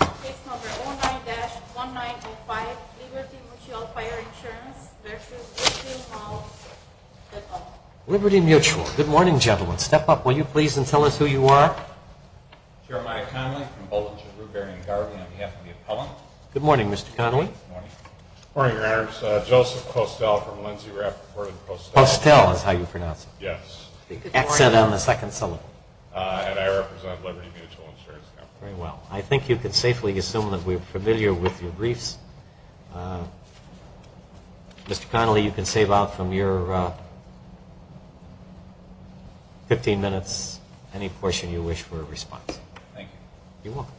Case No. 09-1985, Liberty Mutual Fire Insurance v. Woodfield Mall LLC. Liberty Mutual. Good morning, gentlemen. Step up, will you, please, and tell us who you are. Jeremiah Connelly from Bowdoin, Chebrew, Berry, and Garvey, on behalf of the appellant. Good morning, Mr. Connelly. Good morning. Good morning, Your Honors. Joseph Costell from Lindsey, Rappaport, and Costell. Costell is how you pronounce it. Yes. The accent on the second syllable. And I represent Liberty Mutual Insurance Company. Very well. I think you can safely assume that we are familiar with your briefs. Mr. Connelly, you can save out from your 15 minutes any portion you wish for a response. Thank you. You're welcome.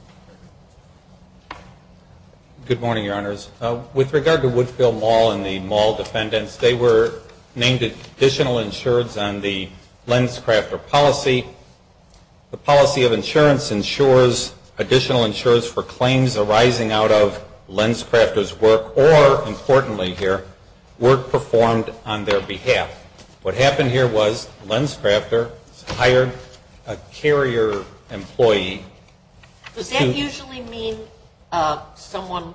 Good morning, Your Honors. With regard to Woodfield Mall and the mall defendants, they were named additional insureds on the Lenscrafter policy. The policy of insurance insures additional insurers for claims arising out of Lenscrafter's work or, importantly here, work performed on their behalf. What happened here was Lenscrafter hired a carrier employee. Does that usually mean someone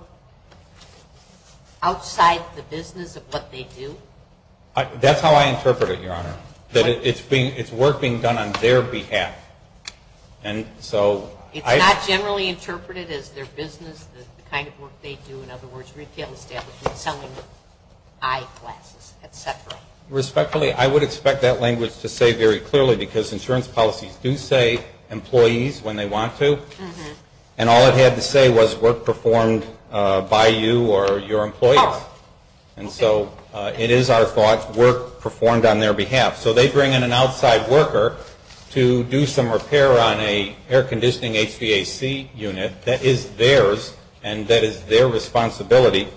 outside the business of what they do? That's how I interpret it, Your Honor. It's work being done on their behalf. It's not generally interpreted as their business, the kind of work they do. In other words, retail establishment, selling eyeglasses, et cetera. Respectfully, I would expect that language to say very clearly because insurance policies do say employees when they want to, and all it had to say was work performed by you or your employees. And so it is our thoughts, work performed on their behalf. So they bring in an outside worker to do some repair on an air-conditioning HVAC unit. That is theirs, and that is their responsibility.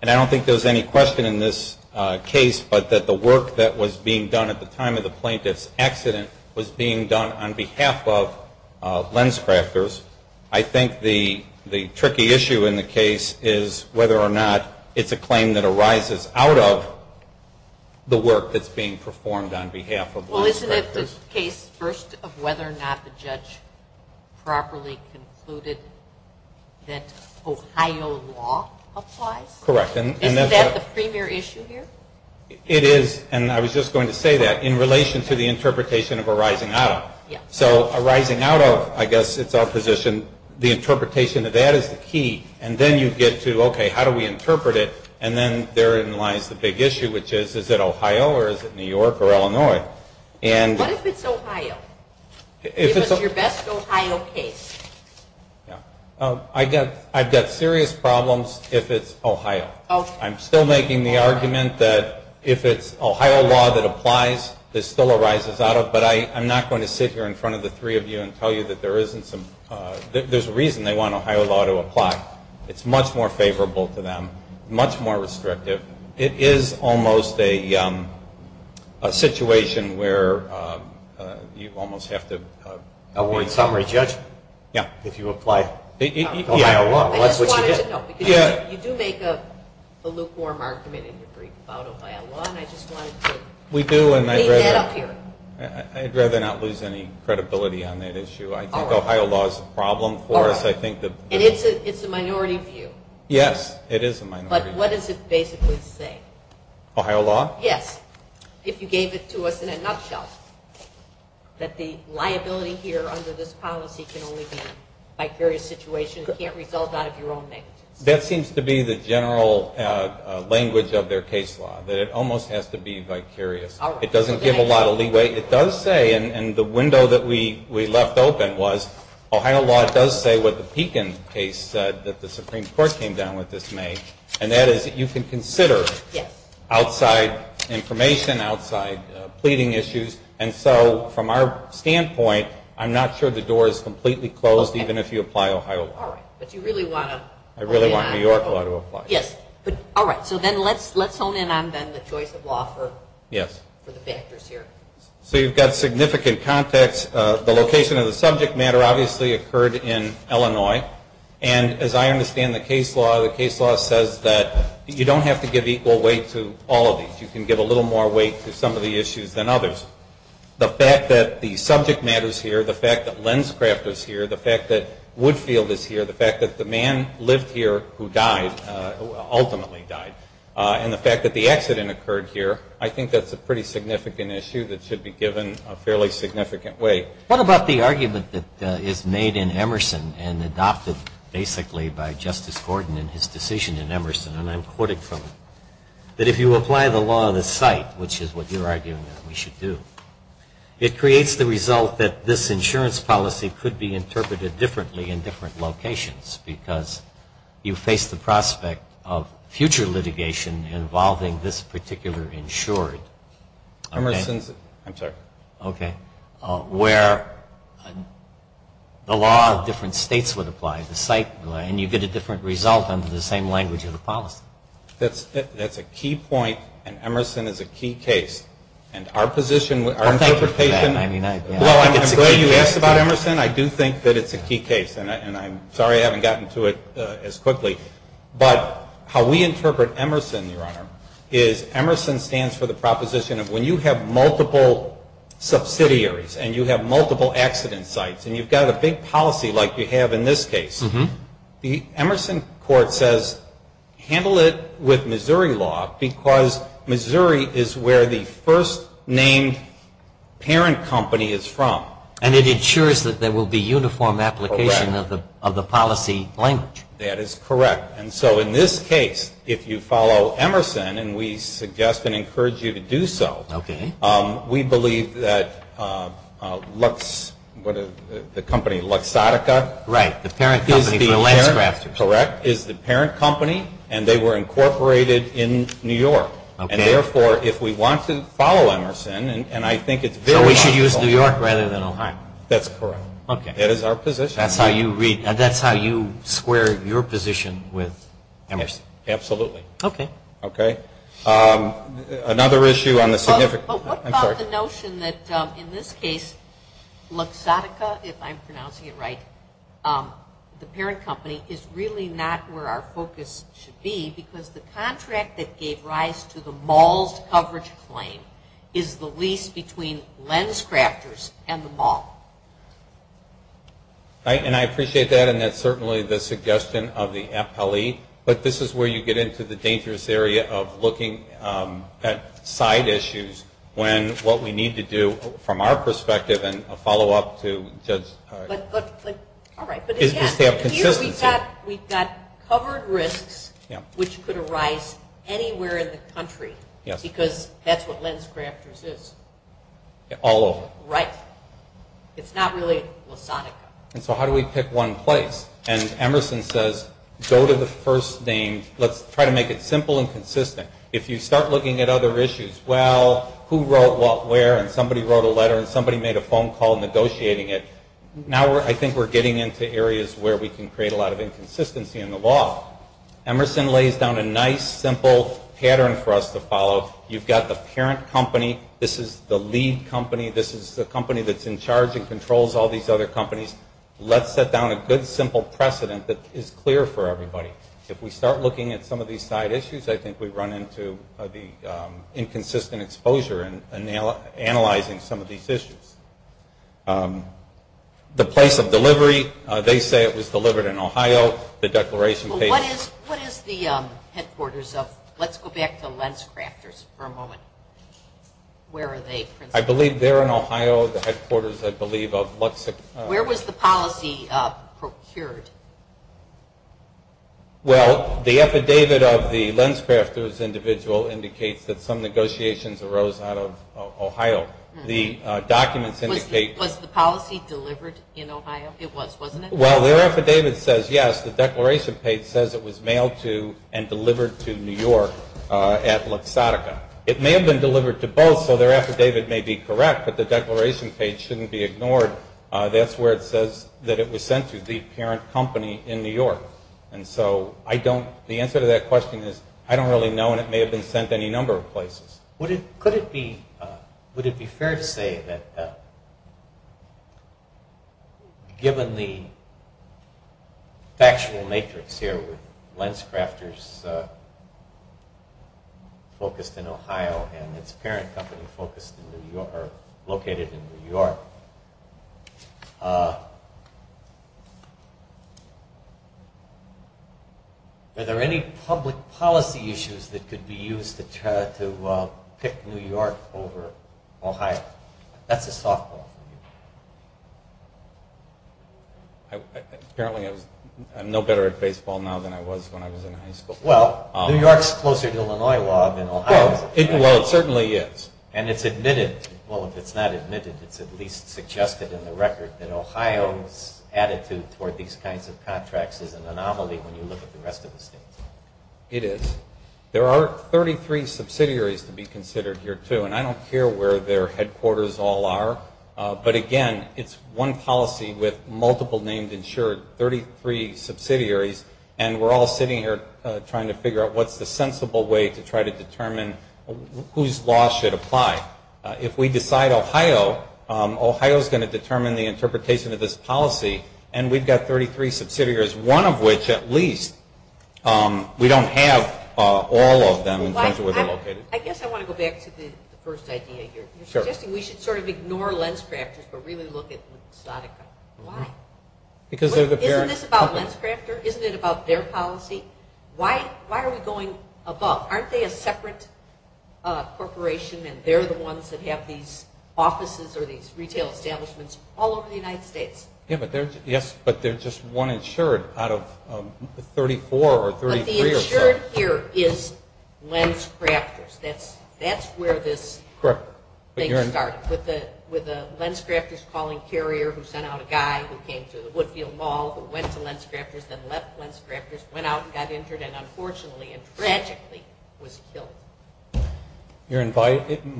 And I don't think there's any question in this case, but that the work that was being done at the time of the plaintiff's accident was being done on behalf of Lenscrafters. I think the tricky issue in the case is whether or not it's a claim that arises out of the work that's being performed on behalf of Lenscrafters. Well, isn't it the case first of whether or not the judge properly concluded that Ohio law applies? Correct. Isn't that the premier issue here? It is, and I was just going to say that, in relation to the interpretation of arising out of. So arising out of, I guess it's our position, the interpretation of that is the key, and then you get to, okay, how do we interpret it? And then therein lies the big issue, which is, is it Ohio or is it New York or Illinois? What if it's Ohio? Give us your best Ohio case. I've got serious problems if it's Ohio. I'm still making the argument that if it's Ohio law that applies, this still arises out of, but I'm not going to sit here in front of the three of you and tell you that there isn't some, there's a reason they want Ohio law to apply. It's much more favorable to them, much more restrictive. It is almost a situation where you almost have to. Award summary judgment. Yeah. If you apply Ohio law, that's what you get. I just wanted to note, because you do make a lukewarm argument in your brief about Ohio law, and I just wanted to leave that up here. I'd rather not lose any credibility on that issue. I think Ohio law is a problem for us. And it's a minority view. Yes, it is a minority view. But what does it basically say? Ohio law? Yes. If you gave it to us in a nutshell, that the liability here under this policy can only be a vicarious situation, it can't result out of your own negligence. That seems to be the general language of their case law, that it almost has to be vicarious. It doesn't give a lot of leeway. It does say, and the window that we left open was, Ohio law does say what the Pekin case said that the Supreme Court came down with this May, and that is that you can consider outside information, outside pleading issues. And so from our standpoint, I'm not sure the door is completely closed, even if you apply Ohio law. I really want New York law to apply. Yes. All right. So then let's hone in on the choice of law for the factors here. So you've got significant context. The location of the subject matter obviously occurred in Illinois. And as I understand the case law, the case law says that you don't have to give equal weight to all of these. You can give a little more weight to some of the issues than others. The fact that the subject matter is here, the fact that Lenscraft is here, the fact that Woodfield is here, the fact that the man lived here who died, ultimately died, and the fact that the accident occurred here, I think that's a pretty significant issue that should be given a fairly significant weight. What about the argument that is made in Emerson and adopted basically by Justice Gordon in his decision in Emerson, and I'm quoting from it, that if you apply the law of the site, which is what you're arguing that we should do, it creates the result that this insurance policy could be interpreted differently in different locations because you face the prospect of future litigation involving this particular insured. Emerson's, I'm sorry. Okay. Where the law of different states would apply, the site, and you get a different result under the same language of the policy. That's a key point, and Emerson is a key case. And our position, our interpretation. Well, thank you for that. Well, I'm glad you asked about Emerson. I do think that it's a key case, and I'm sorry I haven't gotten to it as quickly. But how we interpret Emerson, Your Honor, is Emerson stands for the proposition of when you have multiple subsidiaries and you have multiple accident sites and you've got a big policy like you have in this case, the Emerson court says handle it with Missouri law because Missouri is where the first named parent company is from. And it ensures that there will be uniform application of the policy language. That is correct. And so in this case, if you follow Emerson, and we suggest and encourage you to do so, we believe that the company Luxottica is the parent company, and they were incorporated in New York. And therefore, if we want to follow Emerson, and I think it's very powerful. So we should use New York rather than Ohio. That's correct. That is our position. That's how you square your position with Emerson. Absolutely. Okay. Another issue on the significant. But what about the notion that in this case, Luxottica, if I'm pronouncing it right, the parent company is really not where our focus should be because the contract that gave rise to the mall's coverage claim is the lease between LensCrafters and the mall. And I appreciate that, and that's certainly the suggestion of the appellee. But this is where you get into the dangerous area of looking at side issues when what we need to do from our perspective and a follow-up to just have consistency. Here we've got covered risks which could arise anywhere in the country because that's what LensCrafters is. All over. Right. It's not really Luxottica. And so how do we pick one place? And Emerson says, go to the first name. Let's try to make it simple and consistent. If you start looking at other issues, well, who wrote what where, and somebody wrote a letter, and somebody made a phone call negotiating it, now I think we're getting into areas where we can create a lot of inconsistency in the law. Emerson lays down a nice, simple pattern for us to follow. You've got the parent company. This is the lead company. This is the company that's in charge and controls all these other companies. Let's set down a good, simple precedent that is clear for everybody. If we start looking at some of these side issues, I think we run into the inconsistent exposure in analyzing some of these issues. The place of delivery, they say it was delivered in Ohio. The declaration page. What is the headquarters of? Let's go back to LensCrafters for a moment. Where are they principally? I believe they're in Ohio. The headquarters, I believe, of Luxic. Where was the policy procured? Well, the affidavit of the LensCrafters individual indicates that some negotiations arose out of Ohio. The documents indicate. Was the policy delivered in Ohio? It was, wasn't it? Well, their affidavit says yes. The declaration page says it was mailed to and delivered to New York at Luxottica. It may have been delivered to both, so their affidavit may be correct, but the declaration page shouldn't be ignored. That's where it says that it was sent to, the parent company in New York. And so I don't, the answer to that question is I don't really know, and it may have been sent to any number of places. Would it, could it be, would it be fair to say that given the factual matrix here with LensCrafters focused in Ohio and its parent company focused in New York, or located in New York, are there any public policy issues that could be used to try to pick New York over Ohio? That's a softball for you. Apparently I'm no better at baseball now than I was when I was in high school. Well, New York's closer to Illinois law than Ohio's. Well, it certainly is. And it's admitted, well, if it's not admitted, it's at least suggested in the record that Ohio's attitude toward these kinds of contracts is an anomaly when you look at the rest of the states. It is. There are 33 subsidiaries to be considered here, too, and I don't care where their headquarters all are, but, again, it's one policy with multiple named insured, 33 subsidiaries, and we're all sitting here trying to figure out what's the sensible way to try to determine whose law should apply. If we decide Ohio, Ohio's going to determine the interpretation of this policy, and we've got 33 subsidiaries, one of which at least we don't have all of them in terms of where they're located. I guess I want to go back to the first idea. Sure. You're suggesting we should sort of ignore LensCrafters but really look at Luxottica. Why? Because they're the parent company. Isn't this about LensCrafter? Isn't it about their policy? Why are we going above? Aren't they a separate corporation, and they're the ones that have these offices or these retail establishments all over the United States? Yes, but they're just one insured out of 34 or 33 or so. That's where this thing comes from. Correct. With the LensCrafters calling carrier who sent out a guy who came to the Woodfield Mall who went to LensCrafters, then left LensCrafters, went out and got injured, and unfortunately and tragically was killed.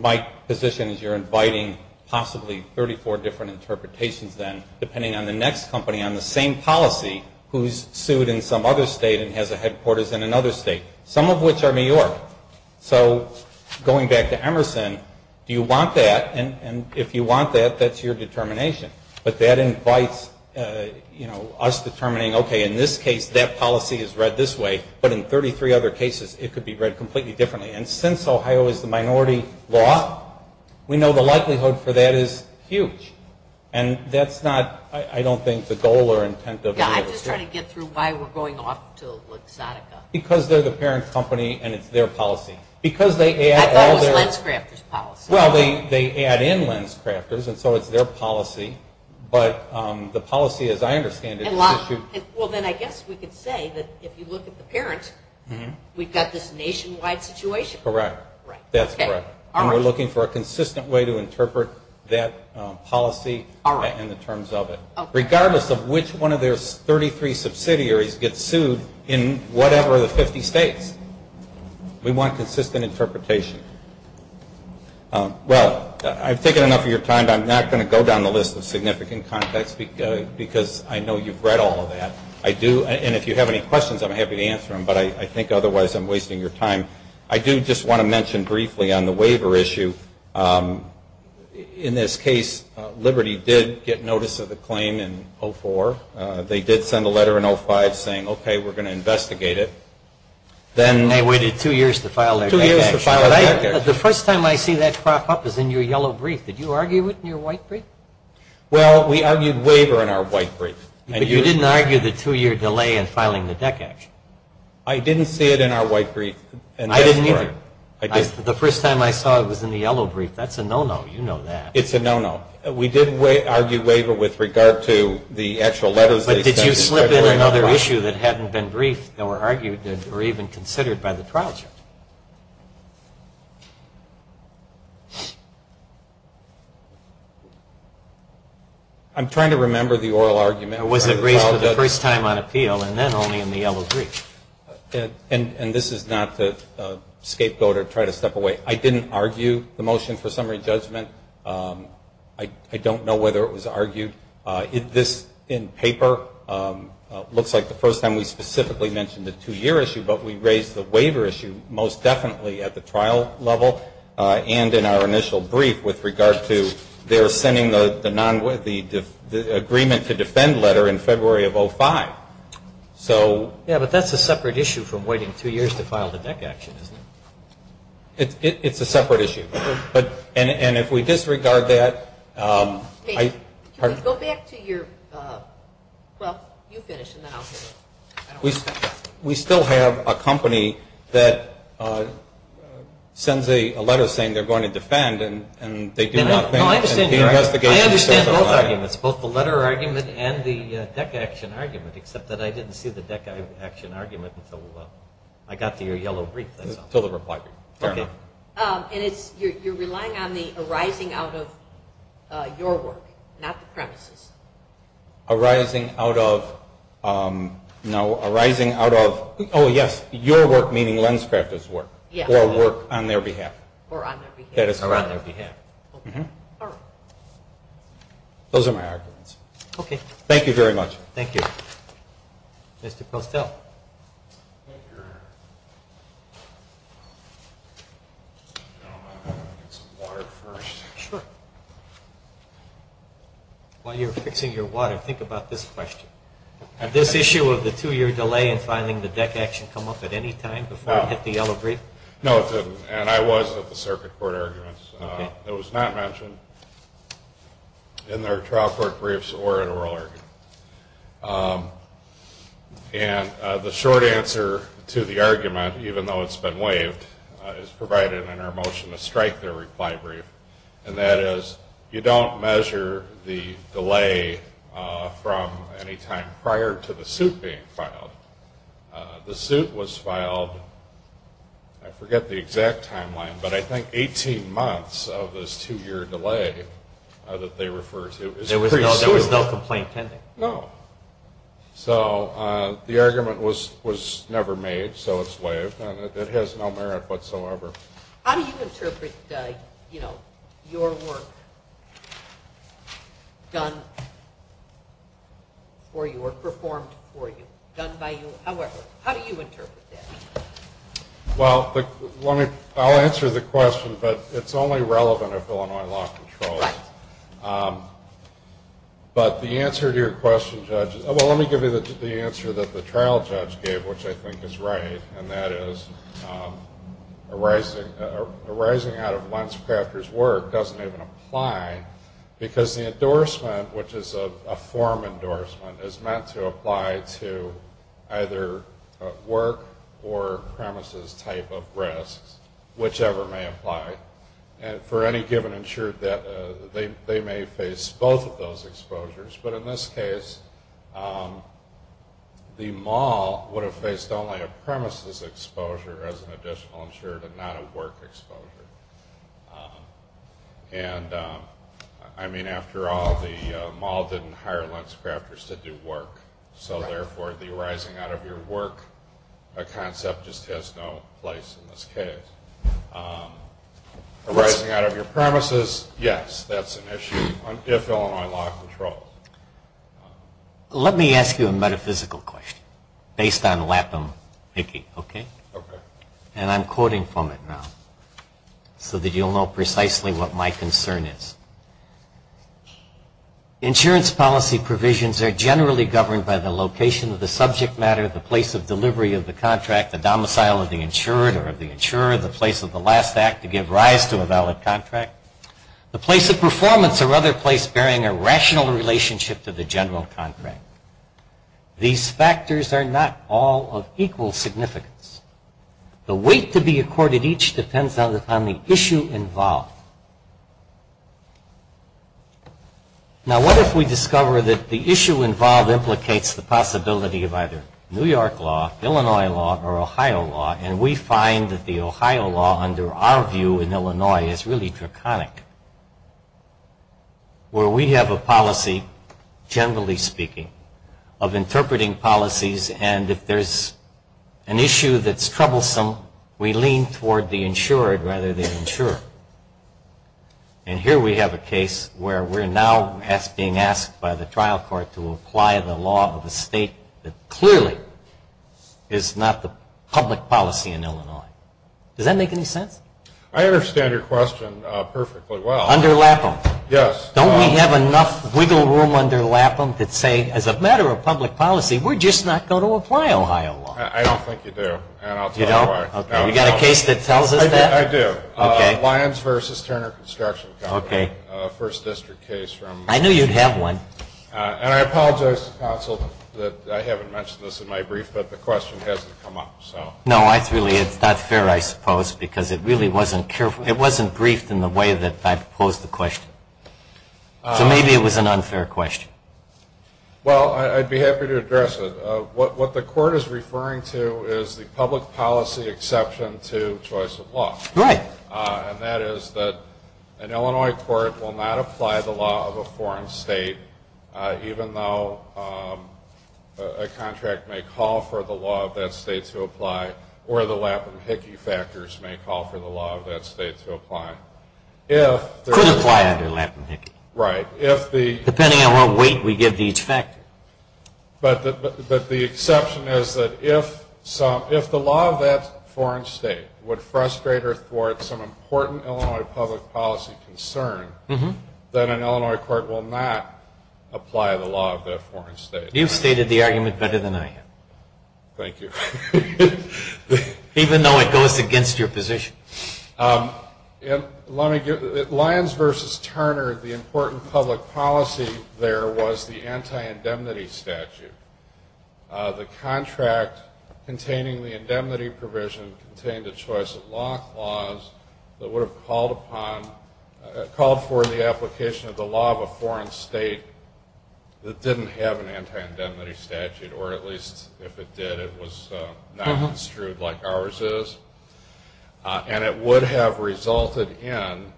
My position is you're inviting possibly 34 different interpretations then, depending on the next company on the same policy who's sued in some other state and has a headquarters in another state, some of which are New York. So going back to Emerson, do you want that? And if you want that, that's your determination. But that invites us determining, okay, in this case that policy is read this way, but in 33 other cases it could be read completely differently. And since Ohio is the minority law, we know the likelihood for that is huge. And that's not, I don't think, the goal or intent. I'm just trying to get through why we're going off to Luxottica. Because they're the parent company and it's their policy. I thought it was LensCrafters' policy. Well, they add in LensCrafters, and so it's their policy. But the policy, as I understand it, is issued. Well, then I guess we could say that if you look at the parent, we've got this nationwide situation. Correct. That's correct. And we're looking for a consistent way to interpret that policy and the terms of it. Regardless of which one of their 33 subsidiaries gets sued in whatever of the 50 states. We want consistent interpretation. Well, I've taken enough of your time, but I'm not going to go down the list of significant conflicts because I know you've read all of that. I do, and if you have any questions, I'm happy to answer them. But I think otherwise I'm wasting your time. I do just want to mention briefly on the waiver issue, in this case, Liberty did get notice of the claim in 2004. They did send a letter in 2005 saying, okay, we're going to investigate it. Then they waited two years to file their deck action. Two years to file their deck action. The first time I see that crop up is in your yellow brief. Did you argue it in your white brief? Well, we argued waiver in our white brief. But you didn't argue the two-year delay in filing the deck action. I didn't see it in our white brief. I didn't either. The first time I saw it was in the yellow brief. That's a no-no. You know that. It's a no-no. We did argue waiver with regard to the actual letters. But did you slip in another issue that hadn't been briefed or argued or even considered by the trial judge? I'm trying to remember the oral argument. Was it raised for the first time on appeal and then only in the yellow brief? And this is not to scapegoat or try to step away. I didn't argue the motion for summary judgment. I don't know whether it was argued. This in paper looks like the first time we specifically mentioned the two-year issue, but we raised the waiver issue most definitely at the trial level and in our initial brief with regard to their sending the agreement to defend letter in February of 2005. Yeah, but that's a separate issue from waiting two years to file the deck action, isn't it? It's a separate issue. And if we disregard that – Go back to your – well, you finish and then I'll finish. We still have a company that sends a letter saying they're going to defend and they do not think the investigation – I understand both arguments, both the letter argument and the deck action argument, except that I didn't see the deck action argument until I got to your yellow brief. Until the reply brief. Okay. And it's – you're relying on the arising out of your work, not the premises. Arising out of – no, arising out of – oh, yes, your work, meaning Lenscraft's work, or work on their behalf. Or on their behalf. That is correct. Or on their behalf. All right. Those are my arguments. Okay. Thank you very much. Thank you. Mr. Postel. Let me get some water first. Sure. While you're fixing your water, think about this question. Had this issue of the two-year delay in filing the deck action come up at any time before it hit the yellow brief? No, it didn't. And I was at the circuit court arguments. Okay. It was not mentioned in their trial court briefs or at oral arguments. And the short answer to the argument, even though it's been waived, is provided in our motion to strike their reply brief. And that is, you don't measure the delay from any time prior to the suit being filed. The suit was filed, I forget the exact timeline, but I think 18 months of this two-year delay that they refer to as pre-suit. There was no complaint pending. No. So the argument was never made, so it's waived. And it has no merit whatsoever. How do you interpret, you know, your work done for you or done by you, however, how do you interpret that? Well, I'll answer the question, but it's only relevant if Illinois law controls. Right. But the answer to your question, Judge, well, let me give you the answer that the trial judge gave, which I think is right, and that is arising out of Lenscrafter's work doesn't even apply because the endorsement, which is a form endorsement, is meant to apply to either work or premises type of risks, whichever may apply for any given insured that they may face both of those exposures. But in this case, the mall would have faced only a premises exposure as an additional insured and not a work exposure. And, I mean, after all, the mall didn't hire Lenscrafters to do work, so therefore the arising out of your work concept just has no place in this case. Arising out of your premises, yes, that's an issue if Illinois law controls. Let me ask you a metaphysical question based on Lapham-Hickey, okay? Okay. And I'm quoting from it now. So that you'll know precisely what my concern is. Insurance policy provisions are generally governed by the location of the subject matter, the place of delivery of the contract, the domicile of the insured or of the insurer, the place of the last act to give rise to a valid contract, the place of performance or other place bearing a rational relationship to the general contract. These factors are not all of equal significance. The weight to be accorded each depends on the issue involved. Now, what if we discover that the issue involved implicates the possibility of either New York law, Illinois law, or Ohio law, and we find that the Ohio law, under our view in Illinois, is really draconic, where we have a policy, generally speaking, of interpreting policies, and if there's an issue that's troublesome, we lean toward the insured rather than the insurer. And here we have a case where we're now being asked by the trial court to apply the law of a state that clearly is not the public policy in Illinois. Does that make any sense? I understand your question perfectly well. Under Lapham. Yes. Don't we have enough wiggle room under Lapham to say, as a matter of public policy, we're just not going to apply Ohio law? I don't think you do. And I'll tell you why. You don't? Okay. You got a case that tells us that? I do. Okay. Lyons v. Turner Construction Company. Okay. First district case from... I knew you'd have one. And I apologize to the counsel that I haven't mentioned this in my brief, but the question hasn't come up, so... No, it's really not fair, I suppose, because it really wasn't careful. It wasn't briefed in the way that I proposed the question. So maybe it was an unfair question. Well, I'd be happy to address it. What the court is referring to is the public policy exception to choice of law. Right. And that is that an Illinois court will not apply the law of a foreign state, even though a contract may call for the law of that state to apply or the Lapham-Hickey factors may call for the law of that state to apply. Could apply under Lapham-Hickey. Right. Depending on what weight we give to each factor. But the exception is that if the law of that foreign state would frustrate or thwart some important Illinois public policy concern, then an Illinois court will not apply the law of that foreign state. You've stated the argument better than I have. Thank you. Even though it goes against your position. Let me give... Lyons v. Turner, the important public policy there was the anti-indemnity statute. The contract containing the indemnity provision contained a choice of law clause that would have called for the application of the law of a foreign state that didn't have an anti-indemnity statute, or at least if it did, it was not construed like ours is. And it would have resulted in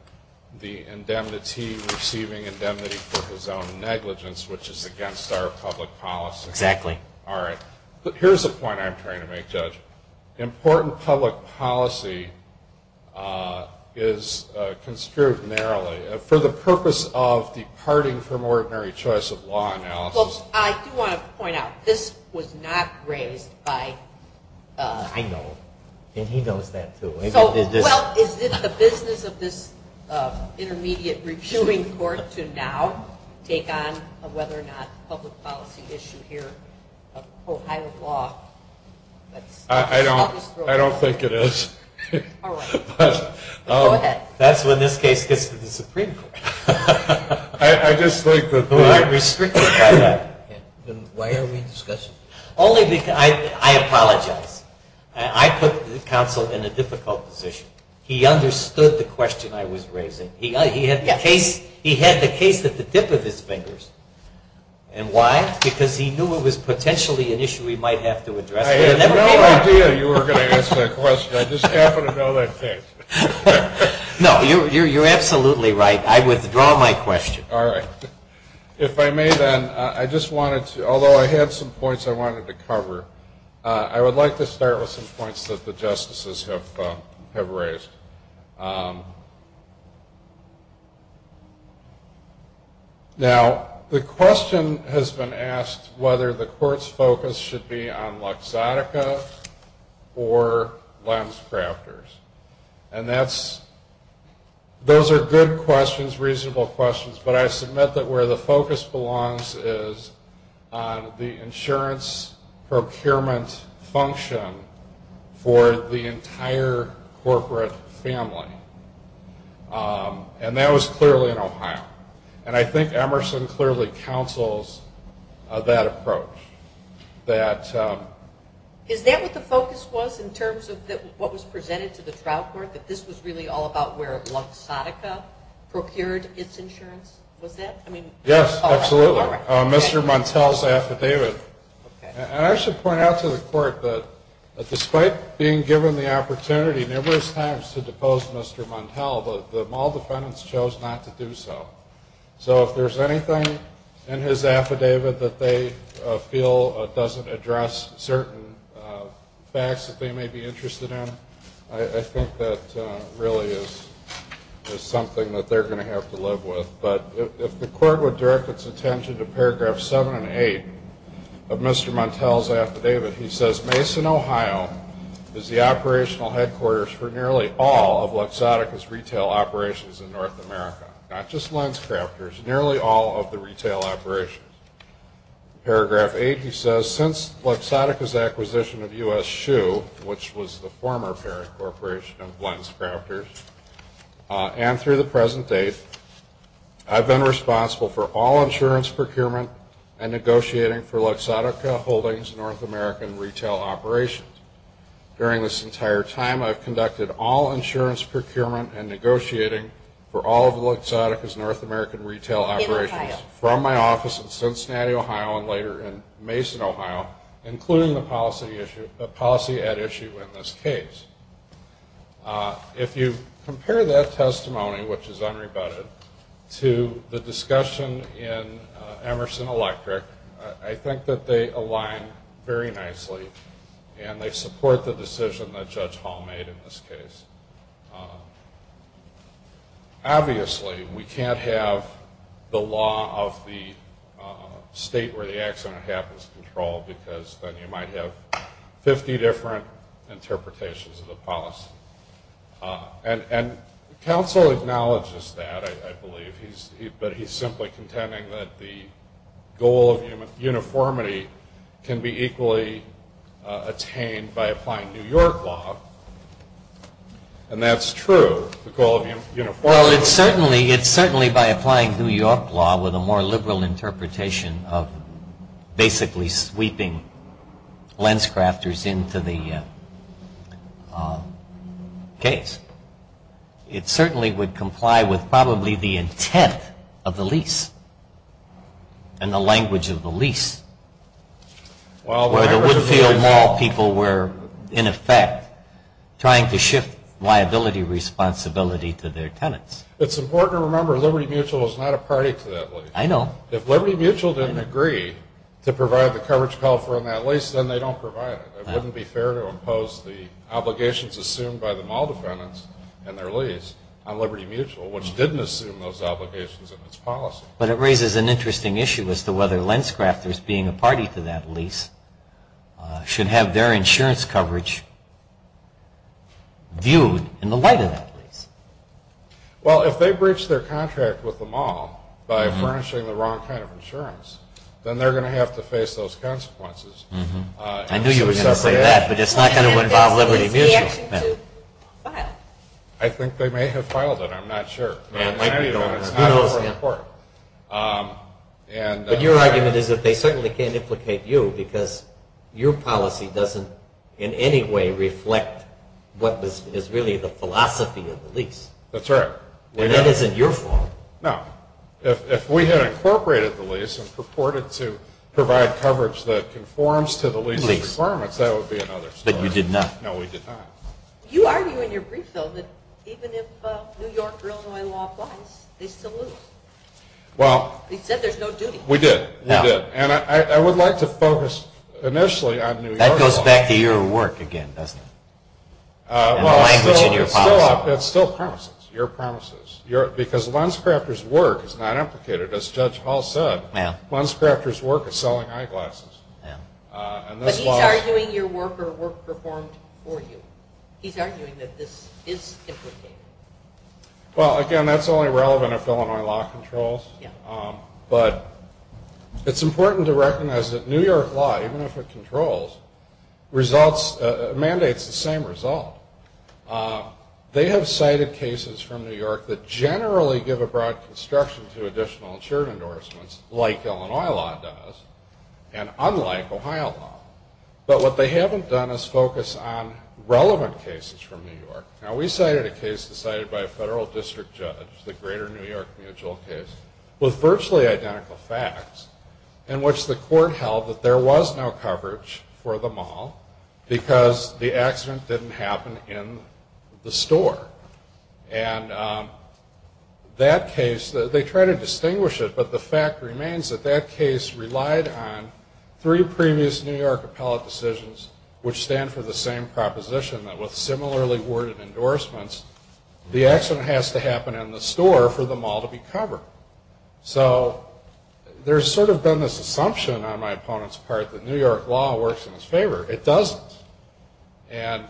the indemnity receiving indemnity for his own negligence, which is against our public policy. Exactly. All right. But here's the point I'm trying to make, Judge. Important public policy is construed narrowly. For the purpose of departing from ordinary choice of law analysis... Well, I do want to point out, this was not raised by... I know. And he knows that, too. Well, is it the business of this intermediate reviewing court to now take on a whether or not public policy issue here of Ohio law? I don't think it is. All right. Go ahead. That's when this case gets to the Supreme Court. I just think that... I'm restricted by that. Then why are we discussing it? I apologize. I put the counsel in a difficult position. He understood the question I was raising. He had the case at the dip of his fingers. And why? Because he knew it was potentially an issue he might have to address. I had no idea you were going to ask that question. I just happened to know that case. No, you're absolutely right. I withdraw my question. All right. If I may, then, I just wanted to... Although I had some points I wanted to cover, I would like to start with some points that the justices have raised. Now, the question has been asked whether the court's focus should be on Luxottica or Lems Crafters. And those are good questions, reasonable questions. But I submit that where the focus belongs is on the insurance procurement function for the entire corporate family. And that was clearly in Ohio. And I think Emerson clearly counsels that approach. Is that what the focus was in terms of what was presented to the trial court, that this was really all about where Luxottica procured its insurance? Was that? Yes, absolutely. Mr. Montel's affidavit. And I should point out to the court that despite being given the opportunity numerous times to depose Mr. Montel, the mall defendants chose not to do so. So if there's anything in his affidavit that they feel doesn't address certain facts that they may be interested in, I think that really is something that they're going to have to live with. But if the court would direct its attention to Paragraph 7 and 8 of Mr. Montel's affidavit, he says, Mason, Ohio is the operational headquarters for nearly all of Luxottica's retail operations in North America, not just Lems Crafters, nearly all of the retail operations. Paragraph 8, he says, Since Luxottica's acquisition of U.S. Shoe, which was the former parent corporation of Lems Crafters, and through the present date, I've been responsible for all insurance procurement and negotiating for Luxottica Holdings North American retail operations. During this entire time, I've conducted all insurance procurement and negotiating for all of my office in Cincinnati, Ohio, and later in Mason, Ohio, including the policy at issue in this case. If you compare that testimony, which is unrebutted, to the discussion in Emerson Electric, I think that they align very nicely, and they support the decision that Judge Hall made in this case. Obviously, we can't have the law of the state where the accident happens controlled because then you might have 50 different interpretations of the policy. And counsel acknowledges that, I believe, but he's simply contending that the goal of uniformity can be equally attained by applying New York law. And that's true, the goal of uniformity. Well, it's certainly by applying New York law with a more liberal interpretation of basically sweeping Lems Crafters into the case. It certainly would comply with probably the intent of the lease and the language of the lease. Well, the language of the lease. Where the Woodfield Mall people were, in effect, trying to shift liability responsibility to their tenants. It's important to remember Liberty Mutual is not a party to that lease. I know. If Liberty Mutual didn't agree to provide the coverage for that lease, then they don't provide it. It wouldn't be fair to impose the obligations assumed by the mall defendants and their lease on Liberty Mutual, which didn't assume those obligations in its policy. But it raises an interesting issue as to whether Lems Crafters, being a party to that lease, should have their insurance coverage viewed in the light of that lease. Well, if they breach their contract with the mall by furnishing the wrong kind of insurance, then they're going to have to face those consequences. I knew you were going to say that, but it's not going to involve Liberty Mutual. I think they may have filed it. I'm not sure. But your argument is that they certainly can't implicate you because your policy doesn't in any way reflect what is really the philosophy of the lease. That's right. And that isn't your fault. No. If we had incorporated the lease and purported to provide coverage that conforms to the lease requirements, that would be another story. But you did not. No, we did not. You argue in your brief, though, that even if New York or Illinois law applies, they still lose. You said there's no duty. We did. We did. And I would like to focus initially on New York law. That goes back to your work again, doesn't it? And the language in your policy. It's still promises, your promises. Because Lems Crafters' work is not implicated, as Judge Hall said. Lems Crafters' work is selling eyeglasses. But he's arguing your work or work performed for you. He's arguing that this is implicated. Well, again, that's only relevant if Illinois law controls. But it's important to recognize that New York law, even if it controls, mandates the same result. They have cited cases from New York that generally give a broad construction to additional insured endorsements, like Illinois law does. And unlike Ohio law. But what they haven't done is focus on relevant cases from New York. Now, we cited a case decided by a federal district judge, the Greater New York Mutual case, with virtually identical facts, in which the court held that there was no coverage for the mall because the accident didn't happen in the store. And that case, they try to distinguish it, but the fact remains that that case relied on three previous New York appellate decisions, which stand for the same proposition, that with similarly worded endorsements, the accident has to happen in the store for the mall to be covered. So there's sort of been this assumption on my opponent's part that New York law works in his favor. It doesn't. And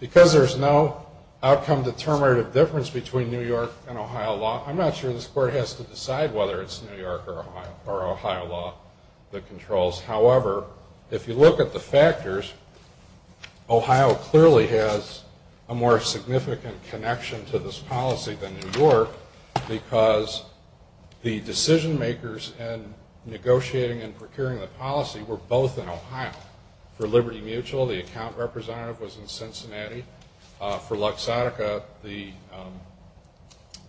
because there's no outcome determinative difference between New York and Ohio law, I'm not sure this court has to decide whether it's New York or Ohio law that controls. However, if you look at the factors, Ohio clearly has a more significant connection to this policy than New York because the decision makers in negotiating and procuring the policy were both in Ohio. For Liberty Mutual, the account representative was in Cincinnati. For Luxottica, the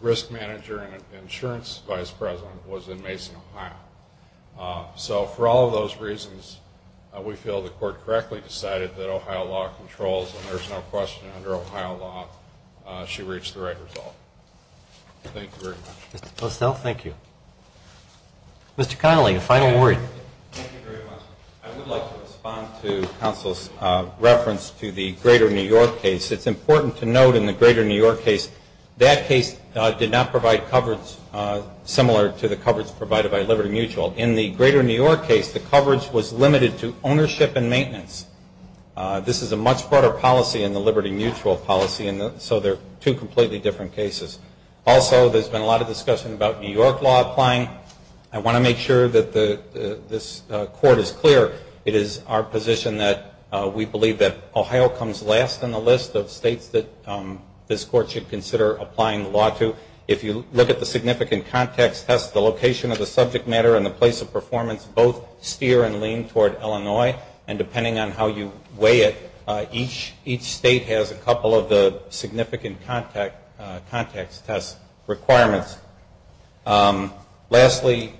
risk manager and insurance vice president was in Mason, Ohio. So for all of those reasons, we feel the court correctly decided that Ohio law controls, and there's no question under Ohio law she reached the right result. Thank you very much. Mr. Postel, thank you. Mr. Connolly, a final word. Thank you very much. I would like to respond to counsel's reference to the Greater New York case. It's important to note in the Greater New York case, that case did not provide coverage similar to the coverage provided by Liberty Mutual. In the Greater New York case, the coverage was limited to ownership and maintenance. This is a much broader policy in the Liberty Mutual policy, so they're two completely different cases. Also, there's been a lot of discussion about New York law applying. I want to make sure that this court is clear. It is our position that we believe that Ohio comes last in the list of states that this court should consider applying law to. If you look at the significant context test, the location of the subject matter and the place of performance both steer and lean toward Illinois, and depending on how you weigh it, each state has a couple of the significant context test requirements. Lastly,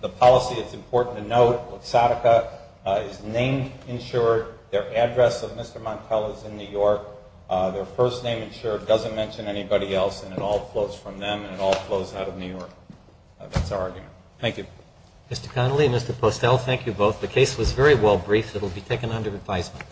the policy, it's important to note, Seneca is name insured. Their address of Mr. Montel is in New York. Their first name insured doesn't mention anybody else, and it all flows from them and it all flows out of New York. That's our argument. Thank you. Mr. Connolly and Mr. Postel, thank you both. The case was very well briefed. It will be taken under advisement.